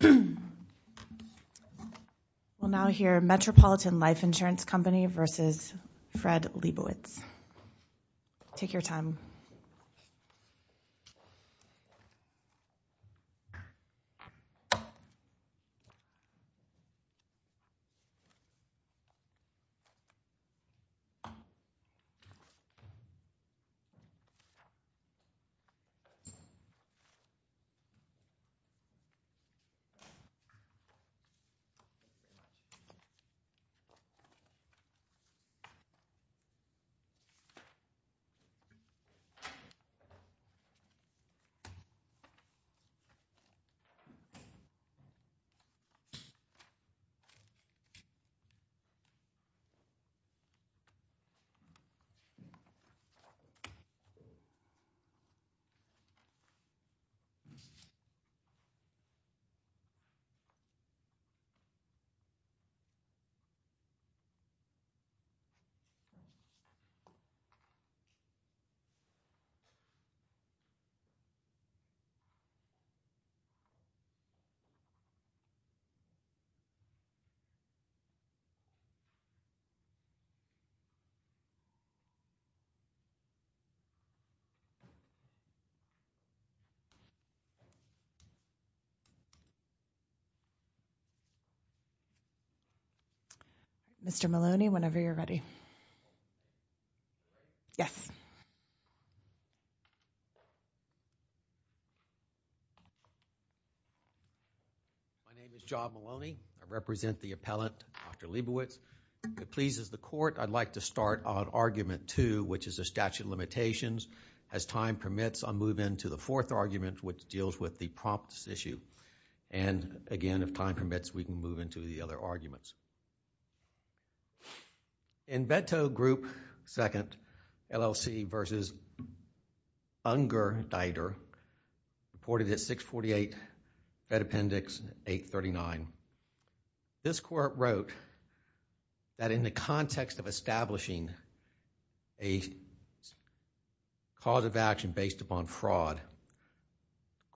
We will now hear Metropolitan Life Insurance Company v. Fred Liebowitz. Please take your time. Mr. Maloney, whenever you're ready. My name is John Maloney. I represent the appellant, Dr. Liebowitz. If it pleases the Court, I'd like to start on Argument 2, which is a statute of limitations. As time permits, I'll move into the fourth argument, which deals with the prompts issue. Again, if time permits, we can move into the other arguments. In Veto Group 2, LLC v. Unger-Deuter, reported at 648 Fed Appendix 839, this Court wrote that in the context of establishing a cause of action based upon fraud,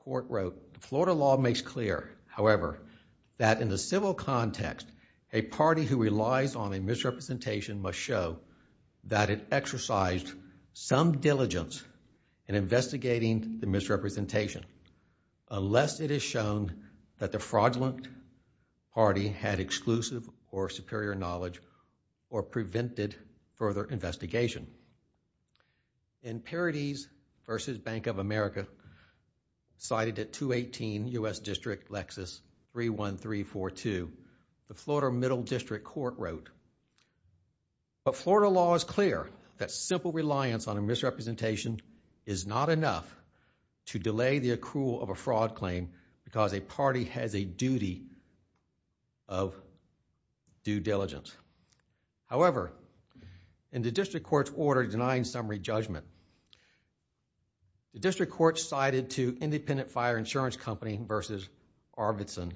the Florida law makes clear, however, that in the civil context, a party who relies on a misrepresentation must show that it exercised some diligence in investigating the misrepresentation, unless it is shown that the fraudulent party had v. Bank of America, cited at 218 U.S. District Lexus 31342. The Florida Middle District Court wrote, but Florida law is clear that simple reliance on a misrepresentation is not enough to delay the accrual of a fraud claim because a party has a duty of due diligence. However, in the District Court's order denying summary judgment, the District Court cited to Independent Fire Insurance Company v. Arvidson,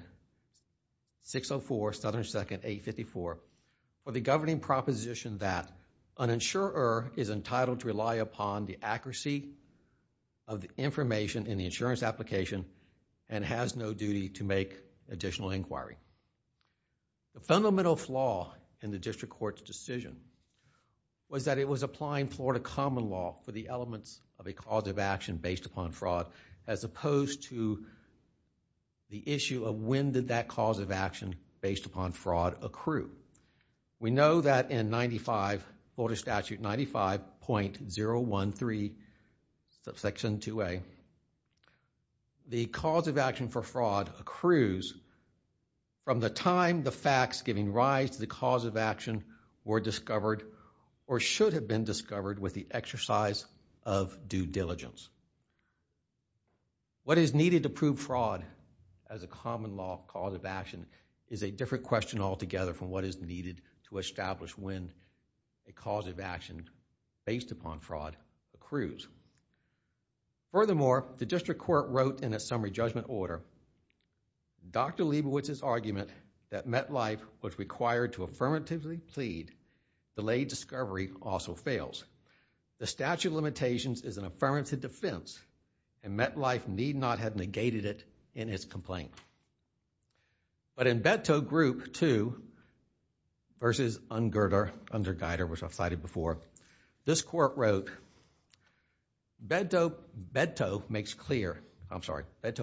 604 Southern 2nd 854, for the governing proposition that an insurer is entitled to rely upon the accuracy of the information in the insurance in the District Court's decision, was that it was applying Florida common law for the elements of a cause of action based upon fraud, as opposed to the issue of when did that cause of action based upon fraud accrue. We know that in Florida Statute 95.013, Section 2A, the cause of action for fraud accrues from the time the facts giving rise to the cause of action were discovered or should have been discovered with the exercise of due diligence. What is needed to prove fraud as a common law cause of action is a different question altogether from what is needed to establish when a cause of action based upon fraud accrues. Furthermore, the District Court wrote in its summary judgment order, Dr. Leibowitz's argument that MetLife was required to affirmatively plead delayed discovery also fails. The statute of limitations is an affirmative defense and MetLife need not have negated it in its complaint. In Beto Group 2 v. Ungerter, which I've cited before, this court wrote, Beto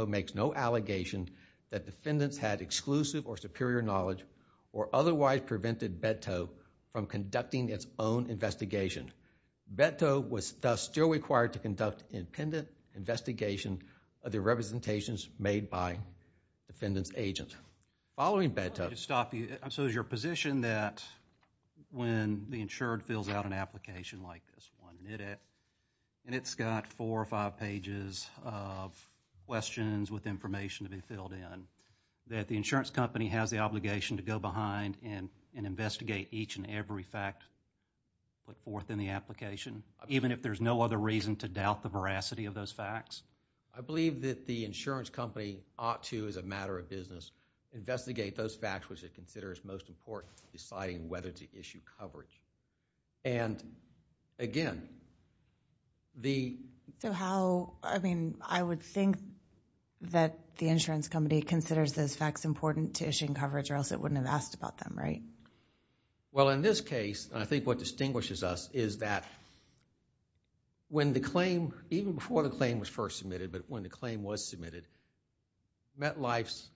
makes no allegation that defendants had exclusive or superior knowledge or otherwise prevented Beto from conducting its own investigation. Beto was thus still required to conduct independent investigation of the representations made by defendants agents. Following Beto. Let me just stop you. So is your position that when the insured fills out an application like this one minute and it's got four or five pages of questions with information to be filled in, that the insurance company has the obligation to go behind and investigate each and every fact put forth in the application, even if there's no other reason to doubt the veracity of those facts? I believe that the insurance company ought to, as a matter of business, investigate those facts which it considers most important in deciding whether to issue coverage. And again, the... So how, I mean, I would think that the insurance company considers those facts important to issuing coverage or else it wouldn't have asked about them, right? Well, in this case, I think what distinguishes us is that when the claim, even before the claim was first submitted, but when the claim was submitted, MetLife's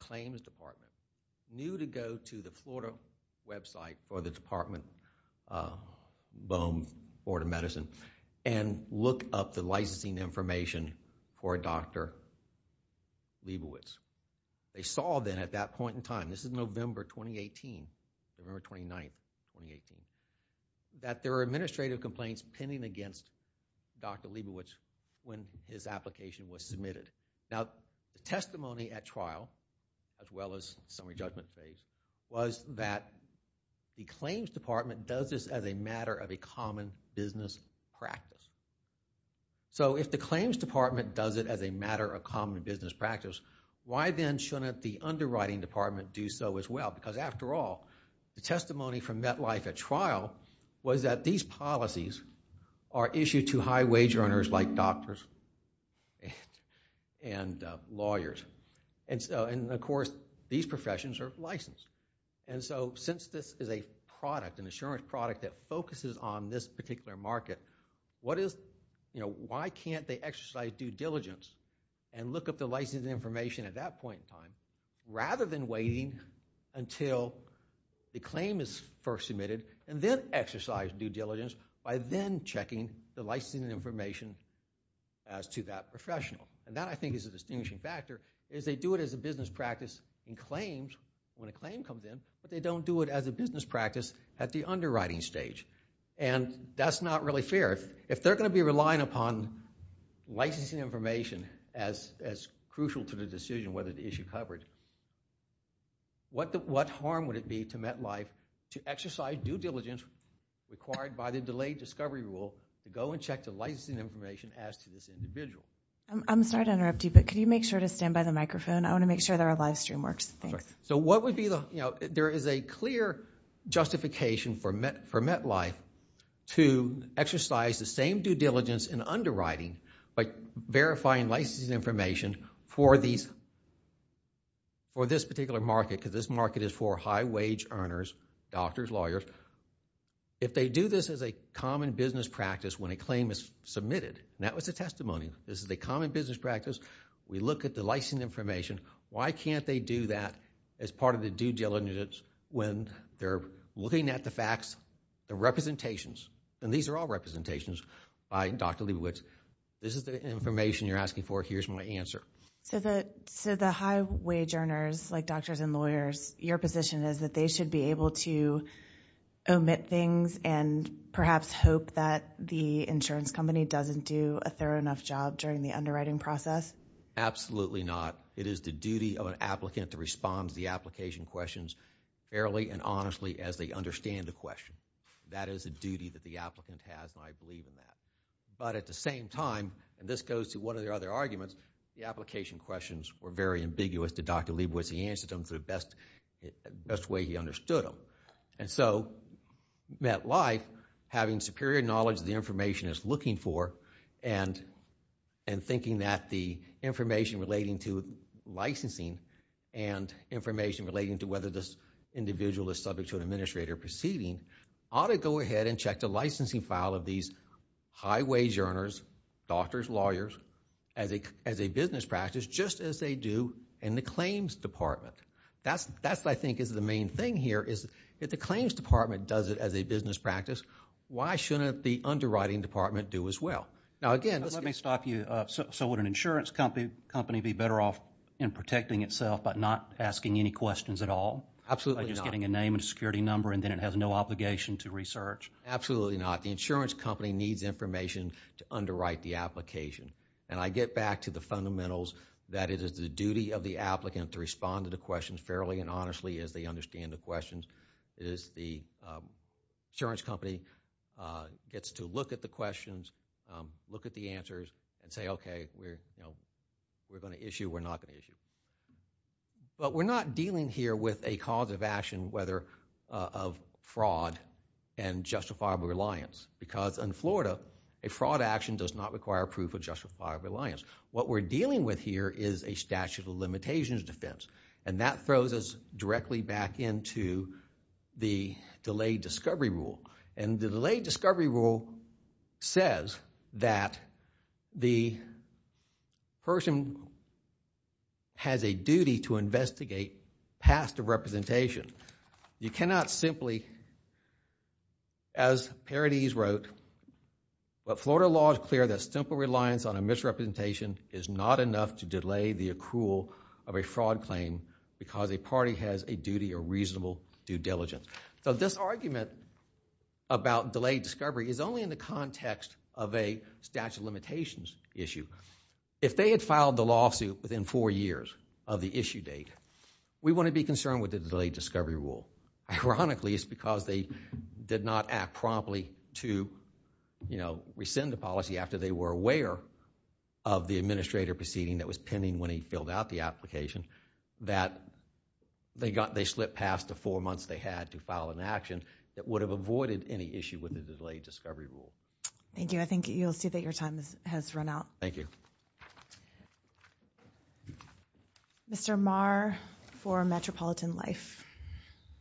claims department knew to go to the Florida website or the department, BOEM, Florida Medicine, and look up the licensing information for Dr. Leibowitz. They saw then at that point in time, this is November 2018, November 29th, 2018, that there were administrative complaints pending against Dr. Leibowitz when his application was submitted. Now, the testimony at trial, as well as summary judgment phase, was that the claims department does this as a matter of a common business practice. So if the claims department does it as a matter of common business practice, why then shouldn't the underwriting department do so as well? Because after all, the testimony from MetLife at trial was that these policies are issued to high-wage earners like doctors and lawyers. And of course, these professions are licensed. And so since this is a product, an insurance product that focuses on this particular market, why can't they exercise due diligence and look up the licensing information at that point in time rather than waiting until the claim is first submitted and then exercise due diligence by then checking the licensing information as to that professional? And that, I think, is a distinguishing factor, is they do it as a business practice in claims when a claim comes in, but they don't do it as a business practice at the underwriting stage. And that's not really fair. If they're going to be relying upon licensing information as crucial to the decision whether to issue coverage, what harm would it be to MetLife to exercise due diligence required by the delayed discovery rule to go and check the licensing information as to this individual? I'm sorry to interrupt you, but could you make sure to stand by the microphone? I want to make sure there are live stream works. Thanks. So what would be the, you know, there is a clear justification for MetLife to exercise the same due diligence in underwriting by verifying licensing information for this particular market, because this market is for high-wage earners, doctors, lawyers. If they do this as a common business practice when a claim is submitted, and that was the testimony, this is a common business practice, we look at the licensing information. Why can't they do that as part of the due diligence when they're looking at the facts, the representations? And these are all representations by Dr. Leibowitz. This is the information you're asking for. Here's my answer. So the high-wage earners, like doctors and lawyers, your position is that they should be able to omit things and perhaps hope that the insurance company doesn't do a thorough enough job during the underwriting process? Absolutely not. It is the duty of an applicant to respond to the application questions fairly and honestly as they understand the question. That is a duty that the applicant has, and I believe in that. But at the same time, and this goes to one of the other arguments, the application questions were very ambiguous to Dr. Leibowitz. He answered them the best way he understood them. And so, MetLife, having superior knowledge of the information it's looking for and thinking that the information relating to licensing and information relating to whether this individual is subject to an administrator proceeding, ought to go ahead and check the licensing file of these high-wage earners, doctors, lawyers, as a business practice, just as they do in the claims department. That's what I think is the main thing here, is if the claims department does it as a business practice, why shouldn't the underwriting department do as well? Now, again, let me stop you. So would an insurance company be better off in protecting itself but not asking any questions at all? Absolutely not. By just getting a name and a security number and then it has no obligation to research? Absolutely not. The insurance company needs information to underwrite the application. And I get back to the fundamentals, that it is the duty of the applicant to respond to the questions fairly and honestly as they understand the questions. It is the insurance company gets to look at the questions, look at the answers and say, okay, we're going to issue, we're not going to issue. But we're not dealing here with a cause of action, of fraud and justifiable reliance. Because in Florida, a fraud action does not require proof of justifiable reliance. What we're dealing with here is a statute of limitations defense. And that throws us directly back into the delayed discovery rule. And the delayed discovery rule says that the person who has a duty to investigate past of representation, you cannot simply, as Paradis wrote, but Florida law is clear that simple reliance on a misrepresentation is not enough to delay the accrual of a fraud claim because a party has a duty or reasonable due diligence. So this argument about delayed discovery is only in the context of a statute of limitations issue. If they had filed the lawsuit within four years of the issue date, we want to be concerned with the delayed discovery rule. Ironically, it's because they did not act promptly to, you know, rescind the policy after they were aware of the administrator proceeding that was pending when he filled out the application that they got, they slipped past the four months they had to file an action that would have avoided any issue with the delayed discovery rule. Thank you. I think you'll see that your time has run out. Thank you. Mr. Marr for Metropolitan Life.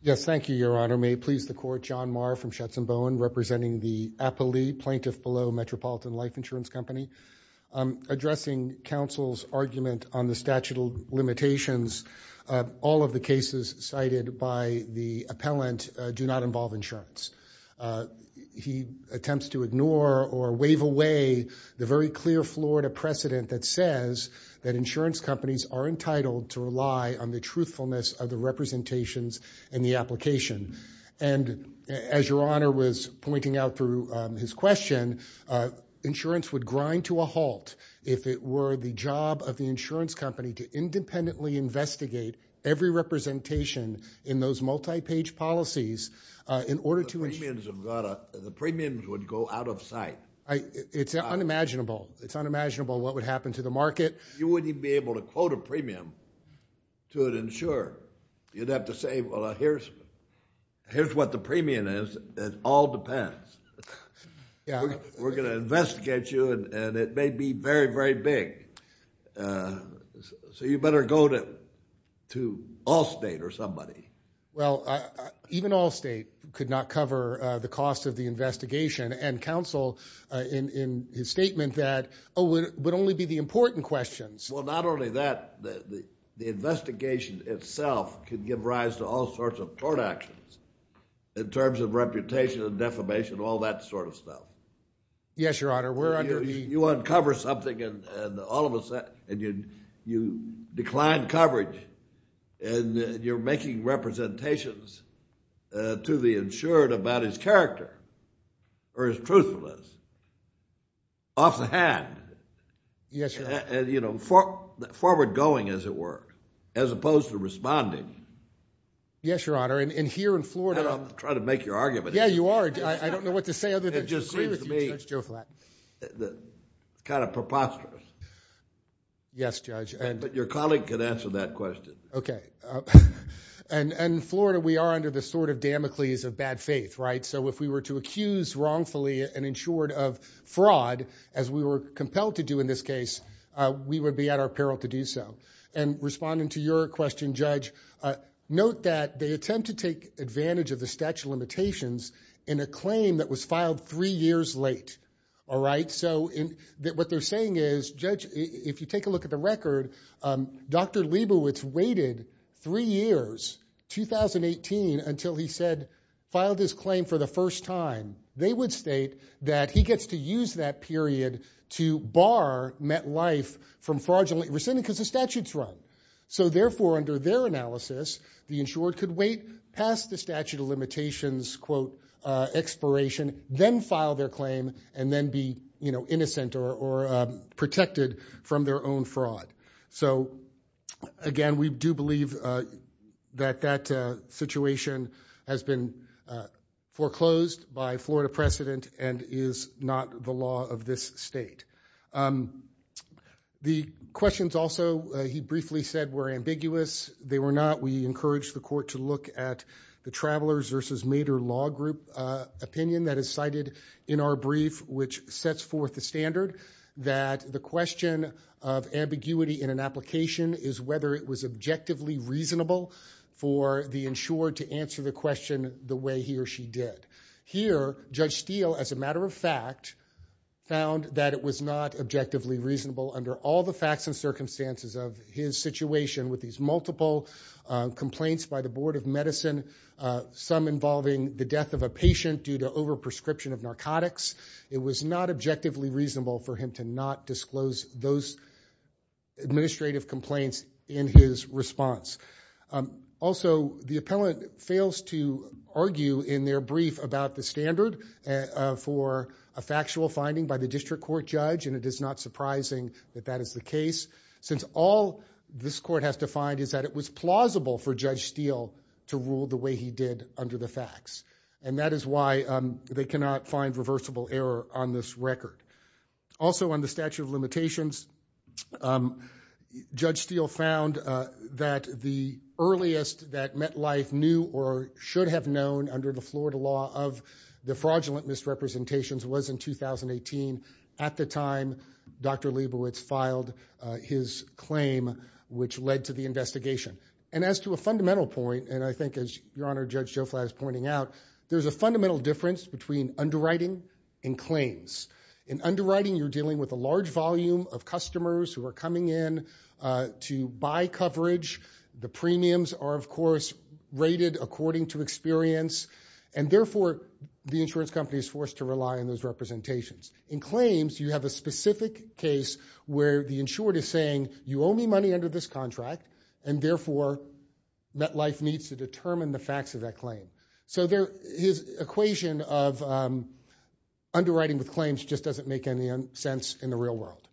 Yes, thank you, Your Honor. May it please the court, John Marr from Shetson Bowen representing the Appalee Plaintiff Below Metropolitan Life Insurance Company. Addressing counsel's argument on the statute of limitations, all of the cases cited by the appellant do not involve insurance. He attempts to ignore or wave away the very clear Florida precedent that says that insurance companies are entitled to rely on the truthfulness of the representations in the application. And as Your Honor was pointing out through his question, insurance would grind to a halt if it were the job of the insurance company to independently investigate every representation in those multi-page policies in order to... The premiums would go out of sight. It's unimaginable. It's unimaginable what would happen to the market. You wouldn't even be able to quote a premium to an insurer. You'd have to say, well, here's what the premium is. It all depends. We're going to investigate you and it may be very, very big. So you better go to Allstate or somebody. Well, even Allstate could not cover the cost of the investigation and counsel in his statement that, oh, it would only be the important questions. Well, not only that, the investigation itself could give rise to all sorts of court actions in terms of reputation and defamation, all that sort of stuff. Yes, Your Honor, we're under the... You uncover something and all of a sudden you decline coverage and you're making representations to the insured about his character or his truthfulness off the hand. Yes, Your Honor. You know, forward going, as it were, as opposed to responding. Yes, Your Honor, and here in Florida... I'm trying to make your argument. Yeah, you are. I don't know what to say other than to agree with you, Judge Joe Flatton. Kind of preposterous. Yes, Judge. But your colleague can answer that question. Okay. And in Florida, we are under the sort of Damocles of bad faith, right? So if we were to accuse wrongfully an insured of fraud, as we were compelled to do in this case, we would be at our peril to do so. And responding to your question, Judge, note that they attempt to take advantage of the statute of limitations in a claim that was filed three years late, all right? So what they're saying is, Judge, if you take a look at the record, Dr. Leibowitz waited three years, 2018, until he said, filed his claim for the first time. They would state that he gets to use that period to bar MetLife from fraudulently rescinding, because the statute's right. So therefore, under their analysis, the insured could wait past the statute of limitations, quote, expiration, then file their claim, and then be innocent or protected from their own fraud. So again, we do believe that that situation has been foreclosed by Florida precedent and is not the law of this state. The questions also, he briefly said, were ambiguous. They were not. We encourage the court to look at the Travelers versus Mader Law Group opinion that is cited in our brief, which sets forth the standard that the question of ambiguity in an application is whether it was objectively reasonable for the insured to answer the question the way he or she did. Here, Judge Steele, as a matter of fact, found that it was not objectively reasonable under all the facts and circumstances of his situation with these multiple complaints by the Board of Medicine, some involving the death of a patient due to overprescription of narcotics. It was not objectively reasonable for him to not disclose those administrative complaints in his response. Also, the appellant fails to argue in their brief about the standard for a factual finding by the district court judge, and it is not surprising that that is the case, since all this court has to find is that it was plausible for Judge Steele to rule the way he did under the facts. And that is why they cannot find reversible error on this record. Also, on the statute of limitations, Judge Steele found that the earliest that MetLife knew or should have known under the Florida law of the fraudulent misrepresentations was in 2018, at the time Dr. Leibowitz filed his claim, which led to the investigation. As to a fundamental point, and I think as Your Honor, Judge Joe Flatt is pointing out, there's a fundamental difference between underwriting and claims. In underwriting, you're dealing with a large volume of customers who are coming in to buy coverage. The premiums are, of course, rated according to experience, and therefore, the insurance company is forced to rely on those representations. In claims, you have a specific case where the insured is saying, you owe me money under this contract, and therefore, MetLife needs to determine the facts of that claim. So his equation of underwriting with claims just doesn't make any sense in the real world.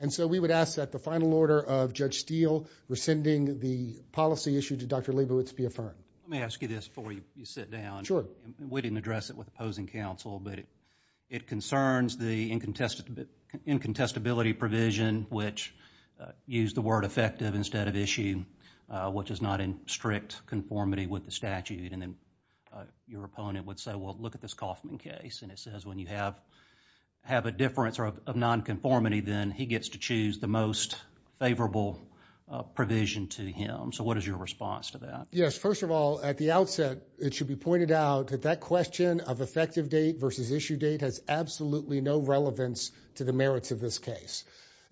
And so we would ask that the final order of Judge Steele rescinding the policy issue to Dr. Leibowitz be affirmed. Let me ask you this before you sit down. Sure. We didn't address it with opposing counsel, but it concerns the incontestability provision, which used the word effective instead of issue, which is not in strict conformity with the statute. And then your opponent would say, well, look at this Kaufman case, and it says when you have a difference of nonconformity, then he gets to choose the most favorable provision to him. So what is your response to that? Yes. First of all, at the outset, it should be pointed out that that question of effective date versus issue date has absolutely no relevance to the merits of this case.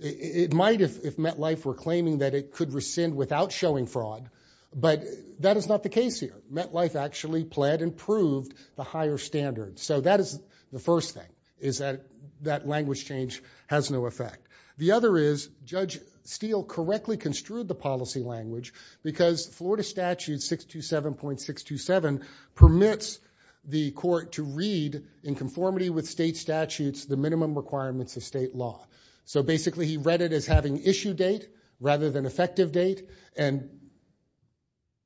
It might if MetLife were claiming that it could rescind without showing fraud, but that is not the case here. MetLife actually pled and proved the higher standards. So that is the first thing, is that that language change has no effect. The other is Judge Steele correctly construed the policy language because Florida Statute 627.627 permits the court to read in conformity with state statutes the minimum requirements of state law. So basically, he read it as having issue date rather than effective date and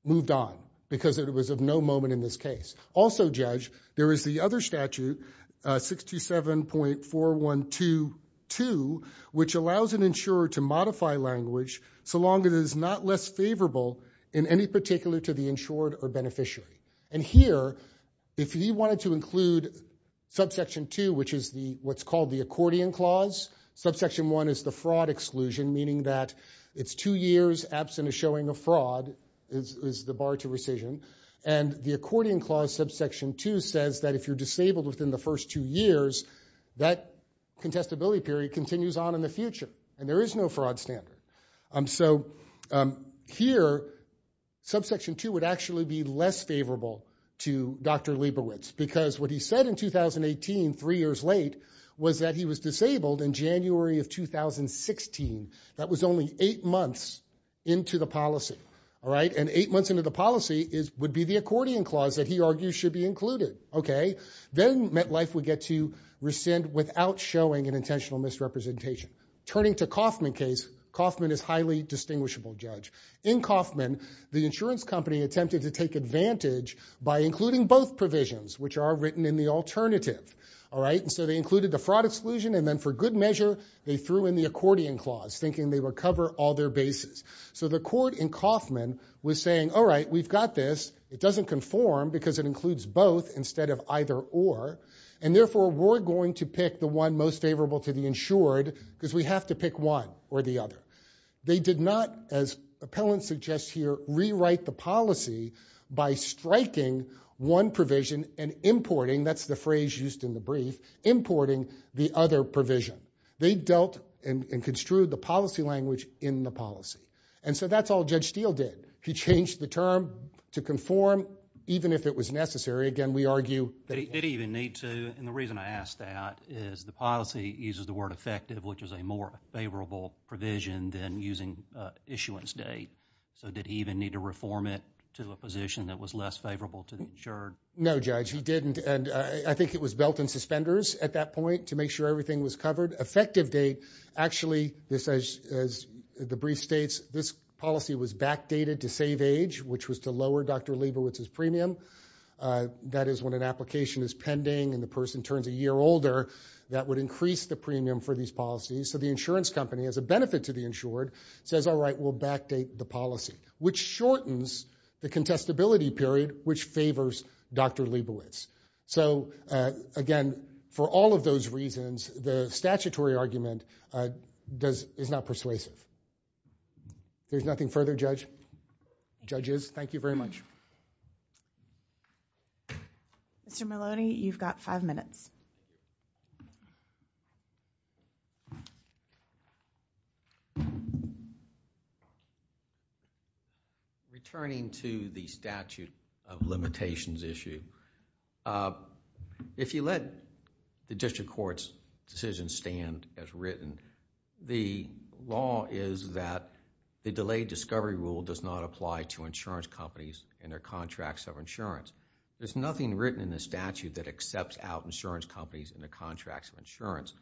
moved on because it was of no moment in this case. Also, Judge, there is the other statute, 627.4122, which allows an insurer to modify language so long as it is not less favorable in any particular to the insured or beneficiary. And here, if he wanted to include subsection 2, which is what's called the accordion clause, subsection 1 is the fraud exclusion, meaning that it's two years absent of showing a fraud is the bar to rescission. And the accordion clause subsection 2 says that if you're disabled within the first two years, that contestability period continues on in the future. And there is no fraud standard. So here, subsection 2 would actually be less favorable to Dr. Leibowitz because what he said in 2018, three years late, was that he was disabled in January of 2016. That was only eight months into the policy, all right? And eight months into the policy would be the accordion clause that he argues should be included, okay? Then MetLife would get to rescind without showing an intentional misrepresentation. Turning to Kaufman case, Kaufman is highly distinguishable, Judge. In Kaufman, the insurance company attempted to take advantage by including both provisions, which are written in the alternative, all right? So they included the fraud exclusion, and then for good measure, they threw in the accordion clause, thinking they would cover all their bases. So the court in Kaufman was saying, all right, we've got this. It doesn't conform because it includes both instead of either or. And therefore, we're going to pick the one most favorable to the insured because we have to pick one or the other. They did not, as appellant suggests here, rewrite the policy by striking one provision and importing, that's the phrase used in the brief, importing the other provision. They dealt and construed the policy language in the policy. And so that's all Judge Steele did. He changed the term to conform even if it was necessary. Again, we argue that he didn't even need to. And the reason I ask that is the policy uses the word effective, which is a more favorable provision than using issuance date. So did he even need to reform it to a position that was less favorable to the insured? No, Judge, he didn't. And I think it was belt and suspenders at that point to make sure everything was covered. Effective date, actually, as the brief states, this policy was backdated to save age, which was to lower Dr. Leibowitz's premium. That is when an application is pending and the person turns a year older, that would increase the premium for these policies. So the insurance company, as a benefit to the insured, says, all right, we'll backdate the policy, which shortens the contestability period, which favors Dr. Leibowitz. So again, for all of those reasons, the statutory argument is not persuasive. There's nothing further, judges? Thank you very much. Mr. Maloney, you've got five minutes. Returning to the statute of limitations issue, if you let the district court's decision stand as written, the law is that the delayed discovery rule does not apply to insurance companies and their contracts of insurance. There's nothing written in the statute that accepts out insurance companies and their contracts of insurance.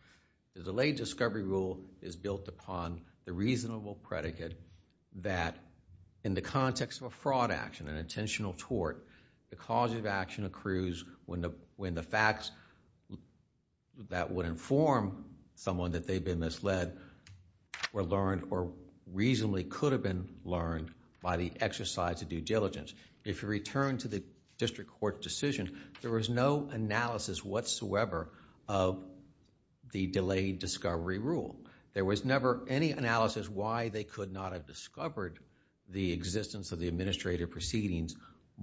The delayed discovery rule is built upon the reasonable predicate that in the context of a fraud action, an intentional tort, the cause of action accrues when the facts that would inform someone that they've been misled were learned or reasonably could have been learned by the exercise of due diligence. If you return to the district court decision, there was no analysis whatsoever of the delayed discovery rule. There was never any analysis why they could not have discovered the existence of the administrative proceedings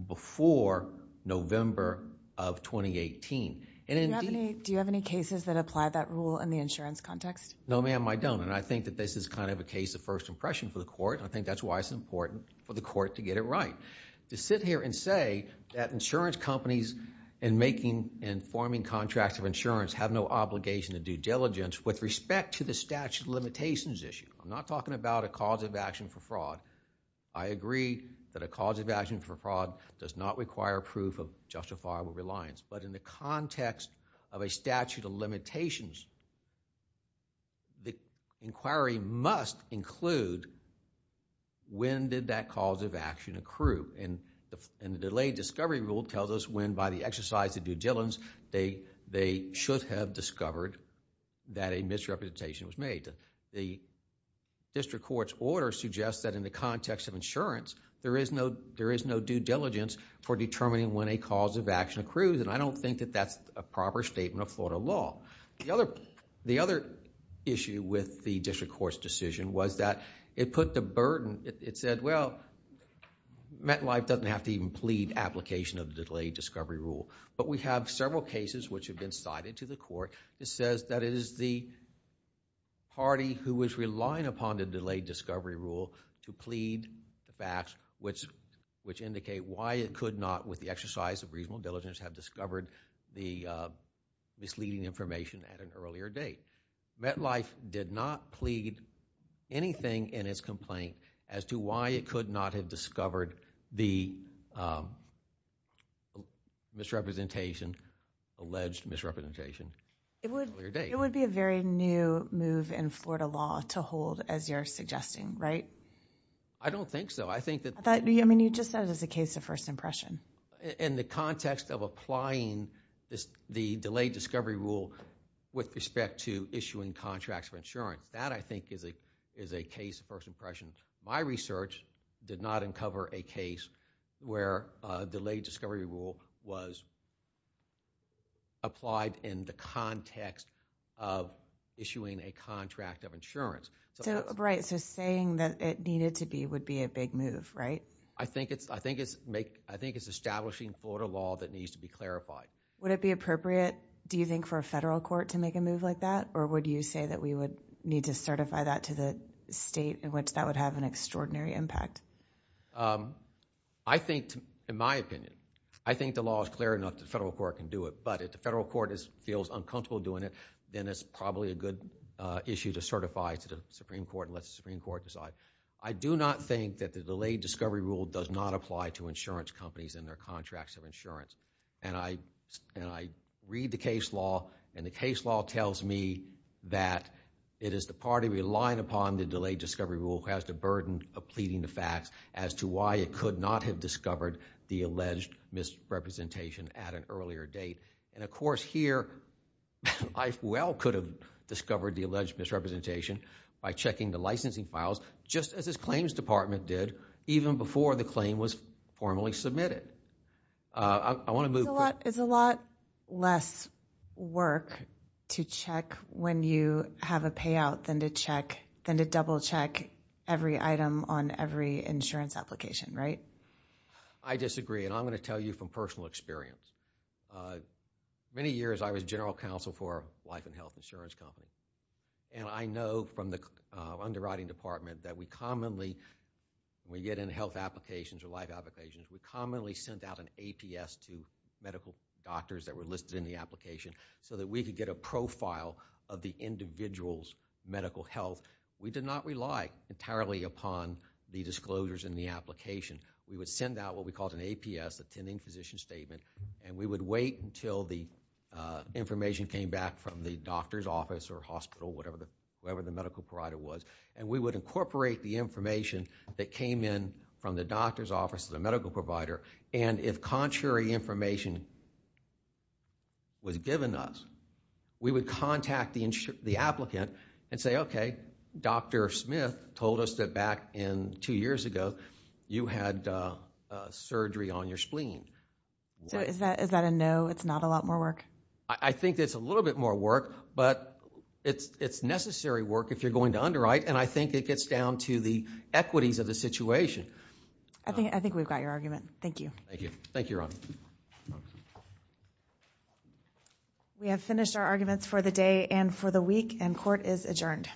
before November of 2018. Do you have any cases that apply that rule in the insurance context? No, ma'am, I don't. I think that this is kind of a case of first impression for the court. I think that's why it's important for the court to get it right. To sit here and say that insurance companies in making and forming contracts of insurance have no obligation to due diligence with respect to the statute of limitations issue. I'm not talking about a cause of action for fraud. I agree that a cause of action for fraud does not require proof of justifiable reliance, but in the context of a statute of limitations, the inquiry must include when did that cause of action accrue. The delayed discovery rule tells us when by the exercise of due diligence they should have discovered that a misrepresentation was made. The district court's order suggests that in the context of insurance, there is no due diligence for determining when a cause of action accrues. I don't think that that's a proper statement of Florida law. The other issue with the district court's decision was that it put the burden. It said, well, MetLife doesn't have to even plead application of the delayed discovery rule, but we have several cases which have been cited to the court. It says that it is the party who is relying upon the delayed discovery rule to plead the facts which indicate why it could not, with the exercise of reasonable diligence, have discovered the misleading information at an earlier date. MetLife did not plead anything in its complaint as to why it could not have discovered the misrepresentation, alleged misrepresentation, earlier date. It would be a very new move in Florida law to hold, as you're suggesting, right? I don't think so. I think that that, I mean, you just said it's a case of first impression. In the context of applying the delayed discovery rule with respect to issuing contracts for insurance, that, I think, is a case of first impression. My research did not uncover a case where a delayed discovery rule was applied in the context of issuing a contract of insurance. Right, so saying that it needed to be would be a big move, right? I think it's establishing Florida law that needs to be clarified. Would it be appropriate, do you think, for a federal court to make a move like that? Or would you say that we would need to certify that to the state in which that would have an extraordinary impact? I think, in my opinion, I think the law is clear enough that the federal court can do it. But if the federal court feels uncomfortable doing it, then it's probably a good issue to certify to the Supreme Court and let the Supreme Court decide. I do not think that the delayed discovery rule does not apply to insurance companies and their contracts of insurance. And I read the case law. And the case law tells me that it is the party relying upon the delayed discovery rule who has the burden of pleading the facts as to why it could not have discovered the alleged misrepresentation at an earlier date. And, of course, here, I well could have discovered the alleged misrepresentation by checking the licensing files, just as this claims department did, even before the claim was formally submitted. I want to move... It's a lot less work to check when you have a payout than to double check every item on every insurance application, right? I disagree. And I'm going to tell you from personal experience. Many years, I was general counsel for a life and health insurance company. And I know from the underwriting department that we commonly, when we get in health applications we commonly send out an APS to medical doctors that were listed in the application so that we could get a profile of the individual's medical health. We did not rely entirely upon the disclosures in the application. We would send out what we called an APS, attending physician statement, and we would wait until the information came back from the doctor's office or hospital, whoever the medical provider was, and we would incorporate the information that came in from the doctor's office or the medical provider. And if contrary information was given us, we would contact the applicant and say, okay, Dr. Smith told us that back in two years ago you had surgery on your spleen. So is that a no? It's not a lot more work? I think it's a little bit more work, but it's necessary work if you're going to underwrite. And I think it gets down to the equities of the situation. I think we've got your argument. Thank you. Thank you. Thank you, Your Honor. We have finished our arguments for the day and for the week, and court is adjourned.